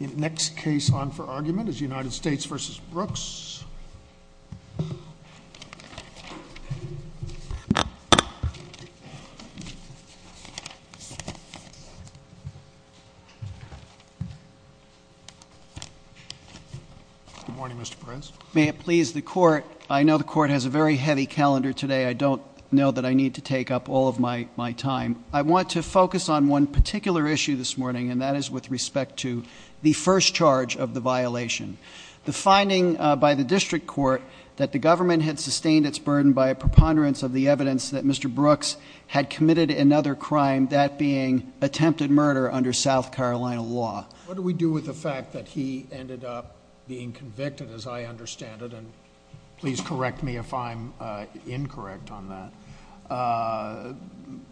In the next case on for argument is United States v. Brooks. Good morning, Mr. Perez. May it please the Court, I know the Court has a very heavy calendar today. I don't know that I need to take up all of my time. I want to focus on one particular issue this morning, and that is with respect to the first charge of the violation. The finding by the district court that the government had sustained its burden by a preponderance of the evidence that Mr. Brooks had committed another crime, that being attempted murder under South Carolina law. What do we do with the fact that he ended up being convicted, as I understand it? And please correct me if I'm incorrect on that.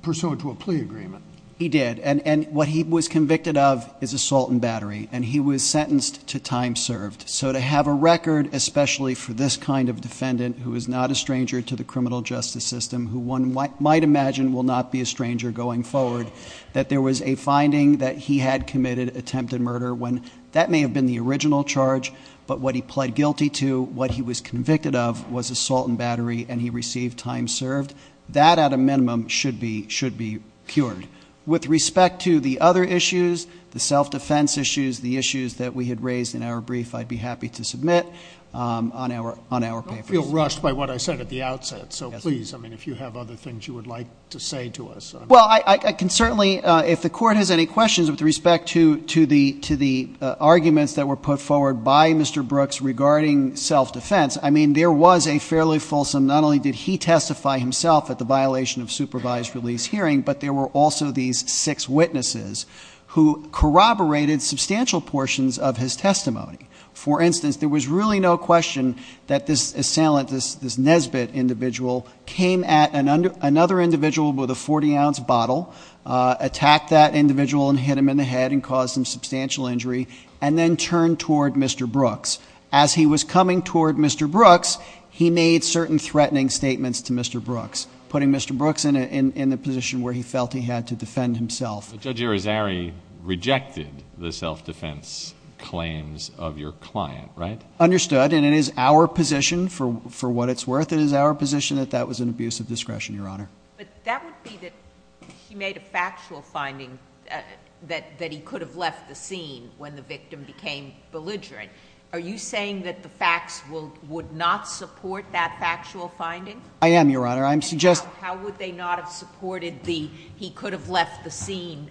Pursuant to a plea agreement. He did, and what he was convicted of is assault and battery, and he was sentenced to time served. So to have a record, especially for this kind of defendant, who is not a stranger to the criminal justice system, who one might imagine will not be a stranger going forward, that there was a finding that he had committed attempted murder, when that may have been the original charge, but what he pled guilty to, what he was convicted of, was assault and battery, and he received time served. That, at a minimum, should be cured. With respect to the other issues, the self-defense issues, the issues that we had raised in our brief, I'd be happy to submit on our papers. I don't feel rushed by what I said at the outset. So please, I mean, if you have other things you would like to say to us. Well, I can certainly, if the court has any questions with respect to the arguments that were put forward by Mr. Brooks regarding self-defense, I mean, there was a fairly fulsome, not only did he testify himself at the violation of supervised release hearing, but there were also these six witnesses who corroborated substantial portions of his testimony. For instance, there was really no question that this assailant, this Nesbitt individual, came at another individual with a 40-ounce bottle, attacked that individual and hit him in the head and caused him substantial injury, and then turned toward Mr. Brooks. As he was coming toward Mr. Brooks, he made certain threatening statements to Mr. Brooks, putting Mr. Brooks in a position where he felt he had to defend himself. But Judge Arizari rejected the self-defense claims of your client, right? Understood, and it is our position, for what it's worth, it is our position that that was an abuse of discretion, Your Honor. But that would be that he made a factual finding that he could have left the scene when the victim became belligerent. Are you saying that the facts would not support that factual finding? I am, Your Honor. How would they not have supported the he could have left the scene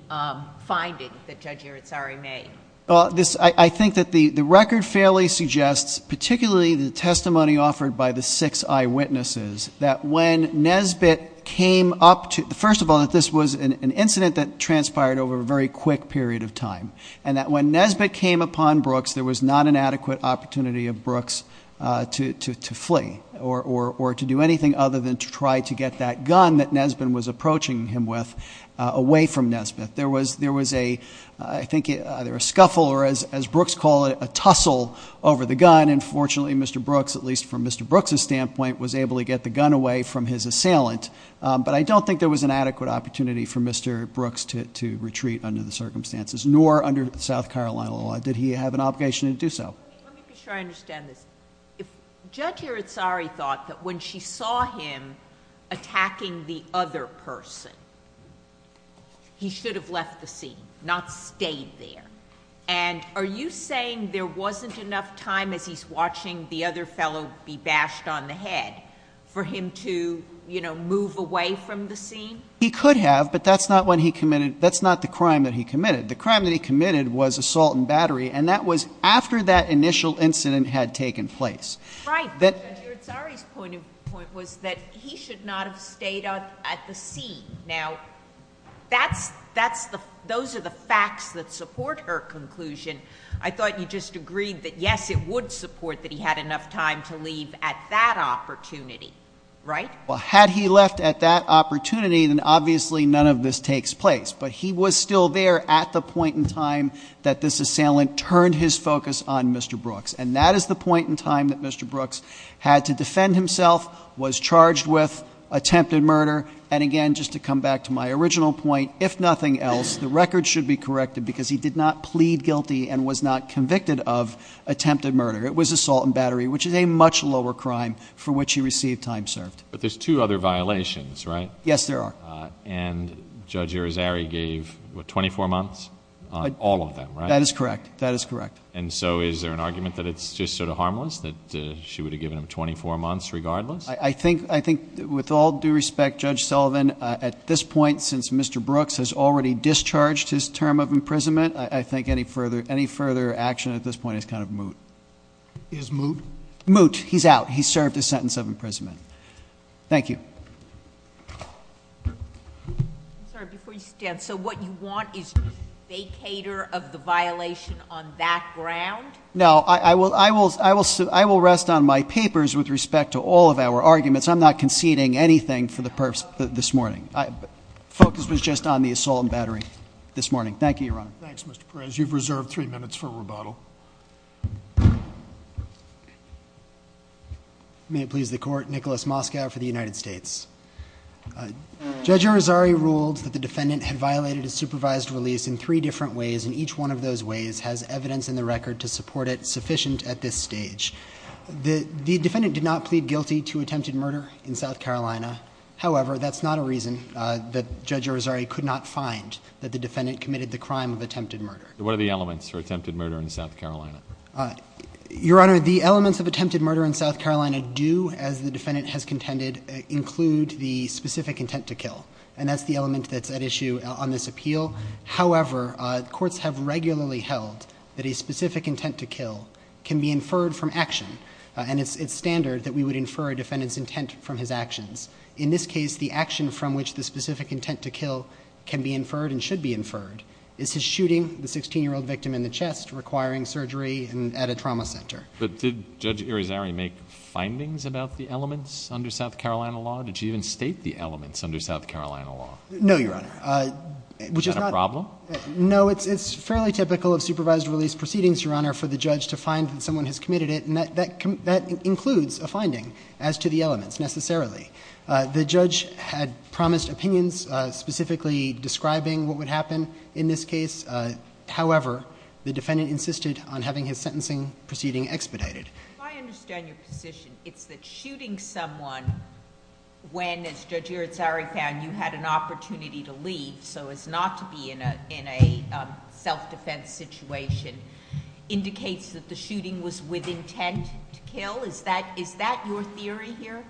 finding that Judge Arizari made? Well, I think that the record fairly suggests, particularly the testimony offered by the six eyewitnesses, that when Nesbitt came up toófirst of all, that this was an incident that transpired over a very quick period of time, and that when Nesbitt came upon Brooks, there was not an adequate opportunity of Brooks to flee or to do anything other than to try to get that gun that Nesbitt was approaching him with away from Nesbitt. There was, I think, either a scuffle or, as Brooks called it, a tussle over the gun. And fortunately, Mr. Brooks, at least from Mr. Brooks's standpoint, was able to get the gun away from his assailant. But I don't think there was an adequate opportunity for Mr. Brooks to retreat under the circumstances, nor under South Carolina law did he have an obligation to do so. Let me be sure I understand this. If Judge Arizari thought that when she saw him attacking the other person, he should have left the scene, not stayed there, and are you saying there wasn't enough time as he's watching the other fellow be bashed on the head for him to, you know, move away from the scene? He could have, but that's not when he committedóthat's not the crime that he committed. The crime that he committed was assault and battery, and that was after that initial incident had taken place. Right. Judge Arizari's point was that he should not have stayed at the scene. Now, those are the facts that support her conclusion. I thought you just agreed that, yes, it would support that he had enough time to leave at that opportunity, right? Well, had he left at that opportunity, then obviously none of this takes place. But he was still there at the point in time that this assailant turned his focus on Mr. Brooks, and that is the point in time that Mr. Brooks had to defend himself, was charged with attempted murder, and again, just to come back to my original point, if nothing else, the record should be corrected because he did not plead guilty and was not convicted of attempted murder. It was assault and battery, which is a much lower crime for which he received time served. But there's two other violations, right? Yes, there are. And Judge Arizari gave 24 months on all of them, right? That is correct. That is correct. And so is there an argument that it's just sort of harmless, that she would have given him 24 months regardless? I think with all due respect, Judge Sullivan, at this point, since Mr. Brooks has already discharged his term of imprisonment, I think any further action at this point is kind of moot. Is moot? Moot. He's out. He's served his sentence of imprisonment. Thank you. I'm sorry, before you stand, so what you want is vacator of the violation on that ground? No, I will rest on my papers with respect to all of our arguments. I'm not conceding anything for the purpose of this morning. Focus was just on the assault and battery this morning. Thank you, Your Honor. You've reserved three minutes for rebuttal. May it please the Court. Nicholas Moskow for the United States. Judge Arizari ruled that the defendant had violated a supervised release in three different ways, and each one of those ways has evidence in the record to support it sufficient at this stage. The defendant did not plead guilty to attempted murder in South Carolina. However, that's not a reason that Judge Arizari could not find that the defendant committed the crime of attempted murder. What are the elements for attempted murder in South Carolina? Your Honor, the elements of attempted murder in South Carolina do, as the defendant has contended, include the specific intent to kill, and that's the element that's at issue on this appeal. However, courts have regularly held that a specific intent to kill can be inferred from action, and it's standard that we would infer a defendant's intent from his actions. In this case, the action from which the specific intent to kill can be inferred and should be inferred is his shooting the 16-year-old victim in the chest, requiring surgery at a trauma center. But did Judge Arizari make findings about the elements under South Carolina law? Did she even state the elements under South Carolina law? No, Your Honor. Is that a problem? It's fairly typical of supervised release proceedings, Your Honor, for the judge to find that someone has committed it, and that includes a finding as to the elements necessarily. The judge had promised opinions specifically describing what would happen in this case. However, the defendant insisted on having his sentencing proceeding expedited. If I understand your position, it's that shooting someone when, as Judge Arizari found, you had an opportunity to leave so as not to be in a self-defense situation, indicates that the shooting was with intent to kill? Is that your theory here?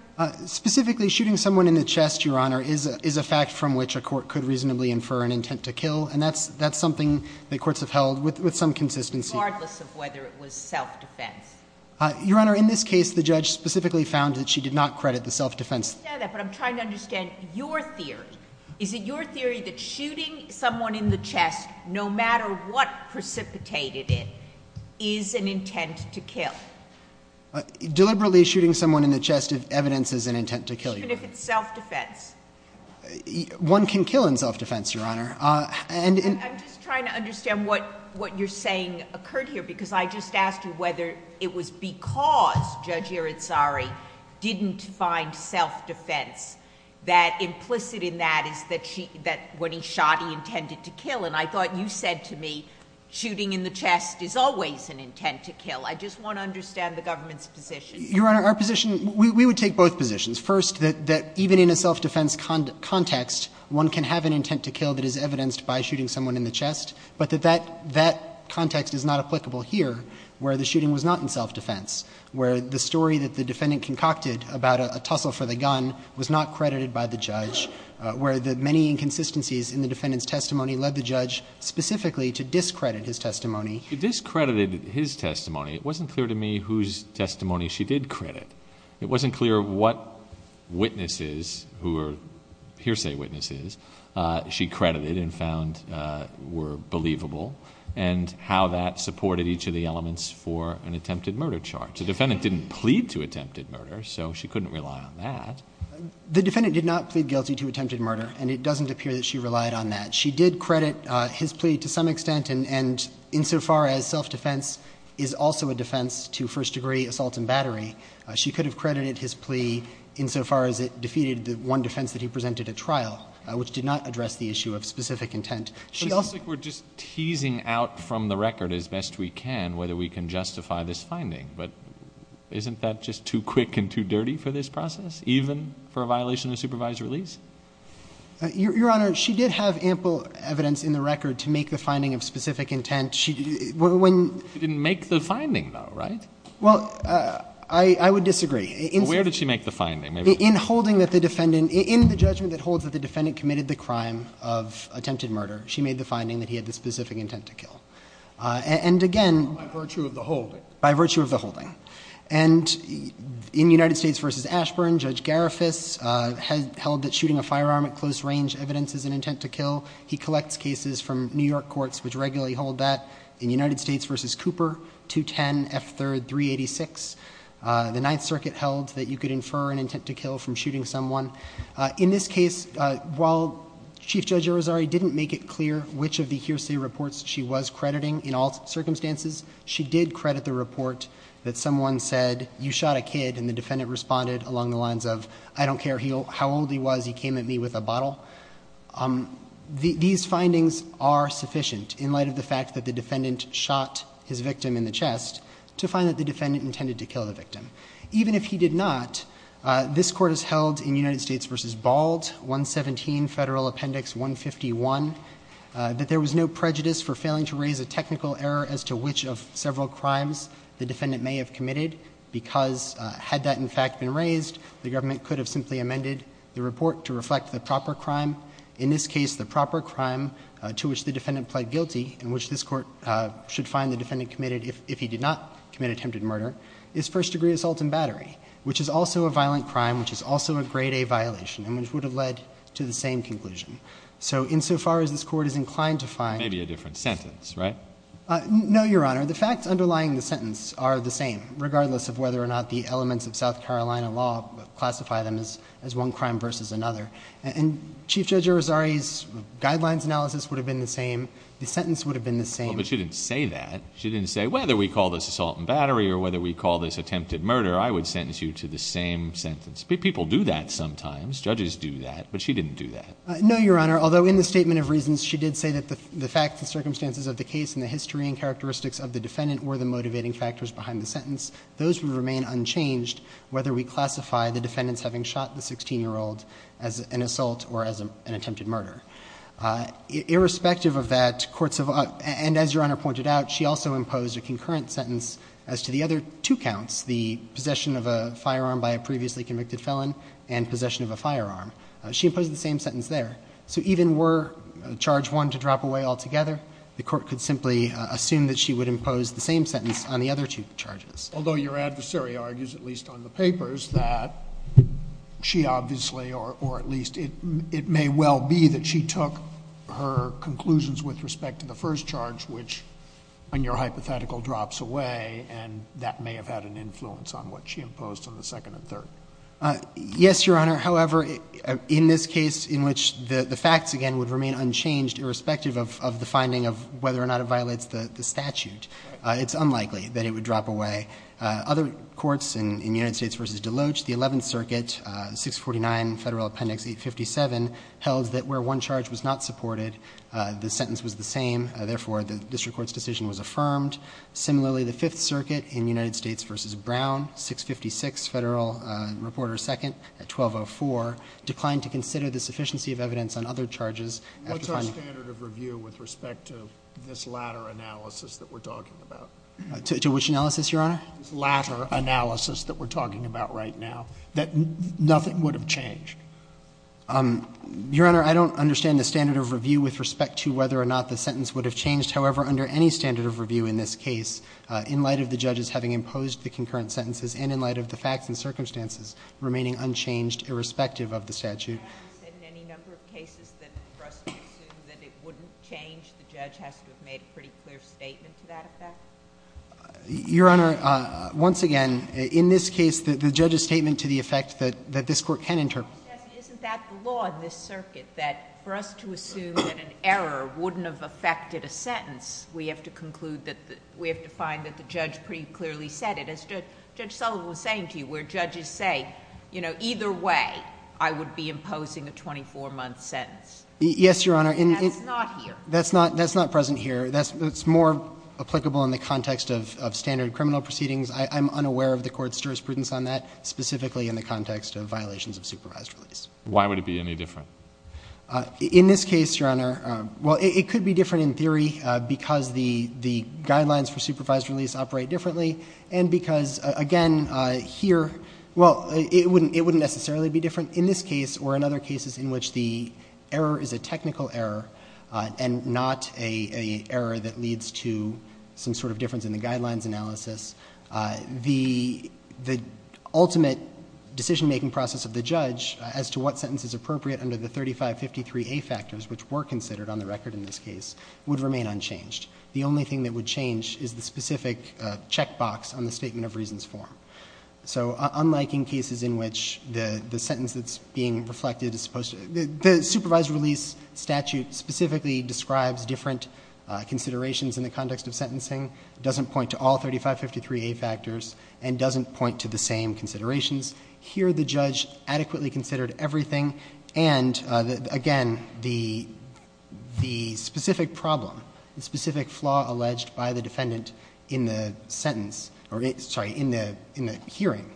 Specifically, shooting someone in the chest, Your Honor, is a fact from which a court could reasonably infer an intent to kill, and that's something that courts have held with some consistency. Regardless of whether it was self-defense? Your Honor, in this case, the judge specifically found that she did not credit the self-defense. I understand that, but I'm trying to understand your theory. Is it your theory that shooting someone in the chest, no matter what precipitated it, is an intent to kill? Deliberately shooting someone in the chest of evidence is an intent to kill, Your Honor. Even if it's self-defense? One can kill in self-defense, Your Honor. I'm just trying to understand what you're saying occurred here, because I just asked you whether it was because Judge Arizari didn't find self-defense that implicit in that is that when he shot, he intended to kill, and I thought you said to me shooting in the chest is always an intent to kill. I just want to understand the government's position. Your Honor, our position, we would take both positions. First, that even in a self-defense context, one can have an intent to kill that is evidenced by shooting someone in the chest, but that that context is not applicable here, where the shooting was not in self-defense, where the story that the defendant concocted about a tussle for the gun was not credited by the judge, where the many inconsistencies in the defendant's testimony led the judge specifically to discredit his testimony. He discredited his testimony. It wasn't clear to me whose testimony she did credit. It wasn't clear what witnesses who were hearsay witnesses she credited and found were believable and how that supported each of the elements for an attempted murder charge. The defendant didn't plead to attempted murder, so she couldn't rely on that. The defendant did not plead guilty to attempted murder, and it doesn't appear that she relied on that. She did credit his plea to some extent, and insofar as self-defense is also a defense to first-degree assault and battery, she could have credited his plea insofar as it defeated the one defense that he presented at trial, which did not address the issue of specific intent. It seems like we're just teasing out from the record as best we can whether we can justify this finding, but isn't that just too quick and too dirty for this process, even for a violation of supervised release? Your Honor, she did have ample evidence in the record to make the finding of specific intent. She didn't make the finding, though, right? Well, I would disagree. Where did she make the finding? In the judgment that holds that the defendant committed the crime of attempted murder, she made the finding that he had the specific intent to kill. By virtue of the holding. By virtue of the holding. And in United States v. Ashburn, Judge Garifas held that shooting a firearm at close range evidence is an intent to kill. He collects cases from New York courts which regularly hold that. In United States v. Cooper, 210 F. 3rd 386, the Ninth Circuit held that you could infer an intent to kill from shooting someone. In this case, while Chief Judge Irizarry didn't make it clear which of the hearsay reports she was crediting in all circumstances, she did credit the report that someone said, you shot a kid, and the defendant responded along the lines of, I don't care how old he was, he came at me with a bottle. These findings are sufficient in light of the fact that the defendant shot his victim in the chest to find that the defendant intended to kill the victim. Even if he did not, this court has held in United States v. Bald, 117 Federal Appendix 151, that there was no prejudice for failing to raise a technical error as to which of several crimes the defendant may have committed, because had that in fact been raised, the government could have simply amended the report to reflect the proper crime. In this case, the proper crime to which the defendant pled guilty, and which this court should find the defendant committed if he did not commit attempted murder, is first degree assault and battery, which is also a violent crime, which is also a grade A violation, and which would have led to the same conclusion. So insofar as this court is inclined to find... Maybe a different sentence, right? No, Your Honor. The facts underlying the sentence are the same, regardless of whether or not the elements of South Carolina law classify them as one crime versus another. And Chief Judge Irizarry's guidelines analysis would have been the same. The sentence would have been the same. But she didn't say that. She didn't say, whether we call this assault and battery or whether we call this attempted murder, I would sentence you to the same sentence. People do that sometimes. Judges do that. But she didn't do that. No, Your Honor. Although in the statement of reasons she did say that the facts and circumstances of the case and the history and characteristics of the defendant were the motivating factors behind the sentence, those would remain unchanged whether we classify the defendants having shot the 16-year-old as an assault or as an attempted murder. Irrespective of that, courts have... And as Your Honor pointed out, she also imposed a concurrent sentence as to the other two counts, the possession of a firearm by a previously convicted felon and possession of a firearm. She imposed the same sentence there. So even were charge one to drop away altogether, the court could simply assume that she would impose the same sentence on the other two charges. Although your adversary argues, at least on the papers, that she obviously, or at least it may well be that she took her conclusions with respect to the first charge, which on your hypothetical drops away, and that may have had an influence on what she imposed on the second and third. Yes, Your Honor. However, in this case in which the facts, again, would remain unchanged irrespective of the finding of whether or not it violates the statute, it's unlikely that it would drop away. Other courts in United States v. DeLoach, the Eleventh Circuit, 649 Federal Appendix 857, held that where one charge was not supported, the sentence was the same. Therefore, the district court's decision was affirmed. Similarly, the Fifth Circuit in United States v. Brown, 656 Federal Reporter 2nd, 1204, declined to consider the sufficiency of evidence on other charges. What's our standard of review with respect to this latter analysis that we're talking about? To which analysis, Your Honor? This latter analysis that we're talking about right now, that nothing would have changed. Your Honor, I don't understand the standard of review with respect to whether or not the sentence would have changed. However, under any standard of review in this case, in light of the judges having imposed the concurrent sentences and in light of the facts and circumstances remaining unchanged, irrespective of the statute. You haven't said in any number of cases that for us to assume that it wouldn't change, the judge has to have made a pretty clear statement to that effect? Your Honor, once again, in this case, the judge's statement to the effect that this Court can interpret. Isn't that the law in this circuit, that for us to assume that an error wouldn't have affected a sentence, we have to conclude that the – we have to find that the judge pretty clearly said it. As Judge Sullivan was saying to you, where judges say, you know, either way I would be imposing a 24-month sentence. Yes, Your Honor. That's not here. That's not present here. That's more applicable in the context of standard criminal proceedings. I'm unaware of the Court's jurisprudence on that, specifically in the context of violations of supervised release. Why would it be any different? In this case, Your Honor, well, it could be different in theory because the guidelines for supervised release operate differently and because, again, here, well, it wouldn't necessarily be different. In this case or in other cases in which the error is a technical error and not an error that leads to some sort of difference in the guidelines analysis, the ultimate decision-making process of the judge as to what sentence is appropriate under the 3553A factors, which were considered on the record in this case, would remain unchanged. The only thing that would change is the specific checkbox on the Statement of Reasons form. So unlike in cases in which the sentence that's being reflected is supposed to – the supervised release statute specifically describes different considerations in the context of sentencing, doesn't point to all 3553A factors, and doesn't point to the same considerations. Here the judge adequately considered everything, and, again, the specific problem, the specific flaw alleged by the defendant in the sentence – sorry, in the hearing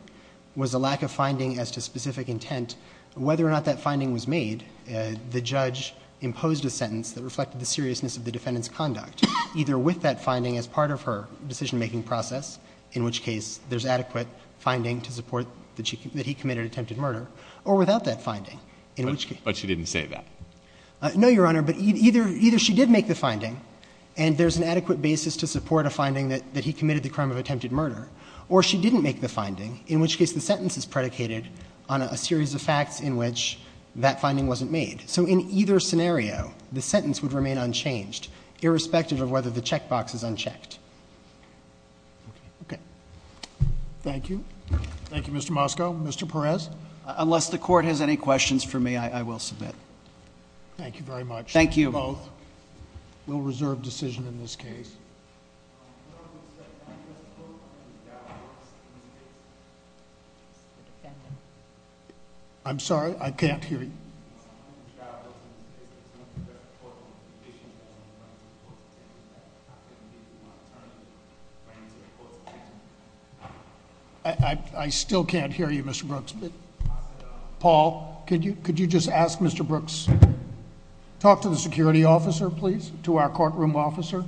was a lack of finding as to specific intent. Whether or not that finding was made, the judge imposed a sentence that reflected the seriousness of the defendant's conduct, either with that finding as part of her decision-making process, in which case there's adequate finding to support that he committed attempted murder, or without that finding, in which case – But she didn't say that. No, Your Honor, but either she did make the finding, and there's an adequate basis to support a finding that he committed the crime of attempted murder, or she didn't make the finding, in which case the sentence is predicated on a series of facts in which that finding wasn't made. So in either scenario, the sentence would remain unchanged, irrespective of whether the checkbox is unchecked. Okay. Thank you. Thank you, Mr. Moskow. Mr. Perez? Unless the court has any questions for me, I will submit. Thank you very much. Thank you. We'll reserve decision in this case. Your Honor, I'm sorry, I can't hear you. I still can't hear you, Mr. Brooks. Paul, could you just ask Mr. Brooks to talk to the security officer, please, to our courtroom officer?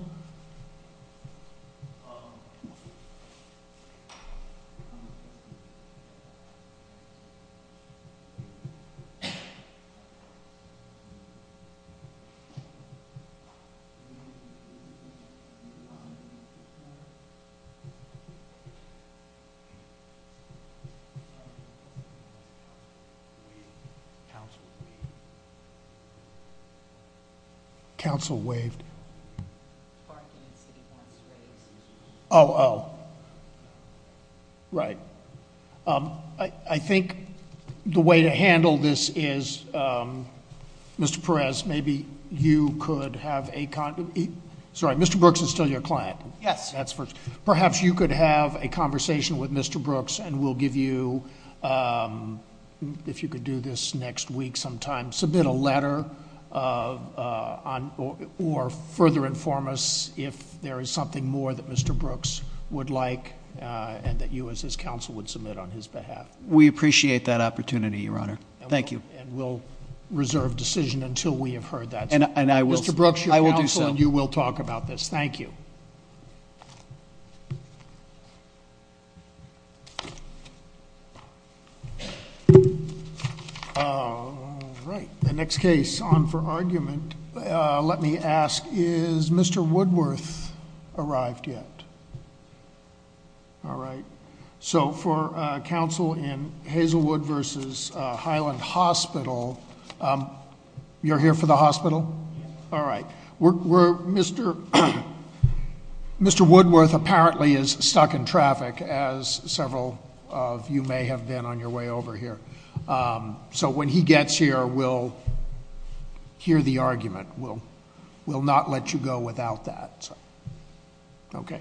Counsel? Counsel? Counsel waved. Oh, oh. Right. I think the way to handle this is, Mr. Perez, maybe you could have a conv- Sorry, Mr. Brooks is still your client. Yes. Perhaps you could have a conversation with Mr. Brooks, and we'll give you, if you could do this next week sometime, submit a letter, or further inform us if there is something more that Mr. Brooks would like, and that you as his counsel would submit on his behalf. We appreciate that opportunity, Your Honor. Thank you. And we'll reserve decision until we have heard that. Mr. Brooks, you're counsel. I will do so. Thank you. All right. The next case on for argument, let me ask, is Mr. Woodworth arrived yet? All right. So for counsel in Hazelwood versus Highland Hospital, you're here for the hospital? Yes. All right. Mr. Woodworth apparently is stuck in traffic, as several of you may have been on your way over here. So when he gets here, we'll hear the argument. We'll not let you go without that. Okay.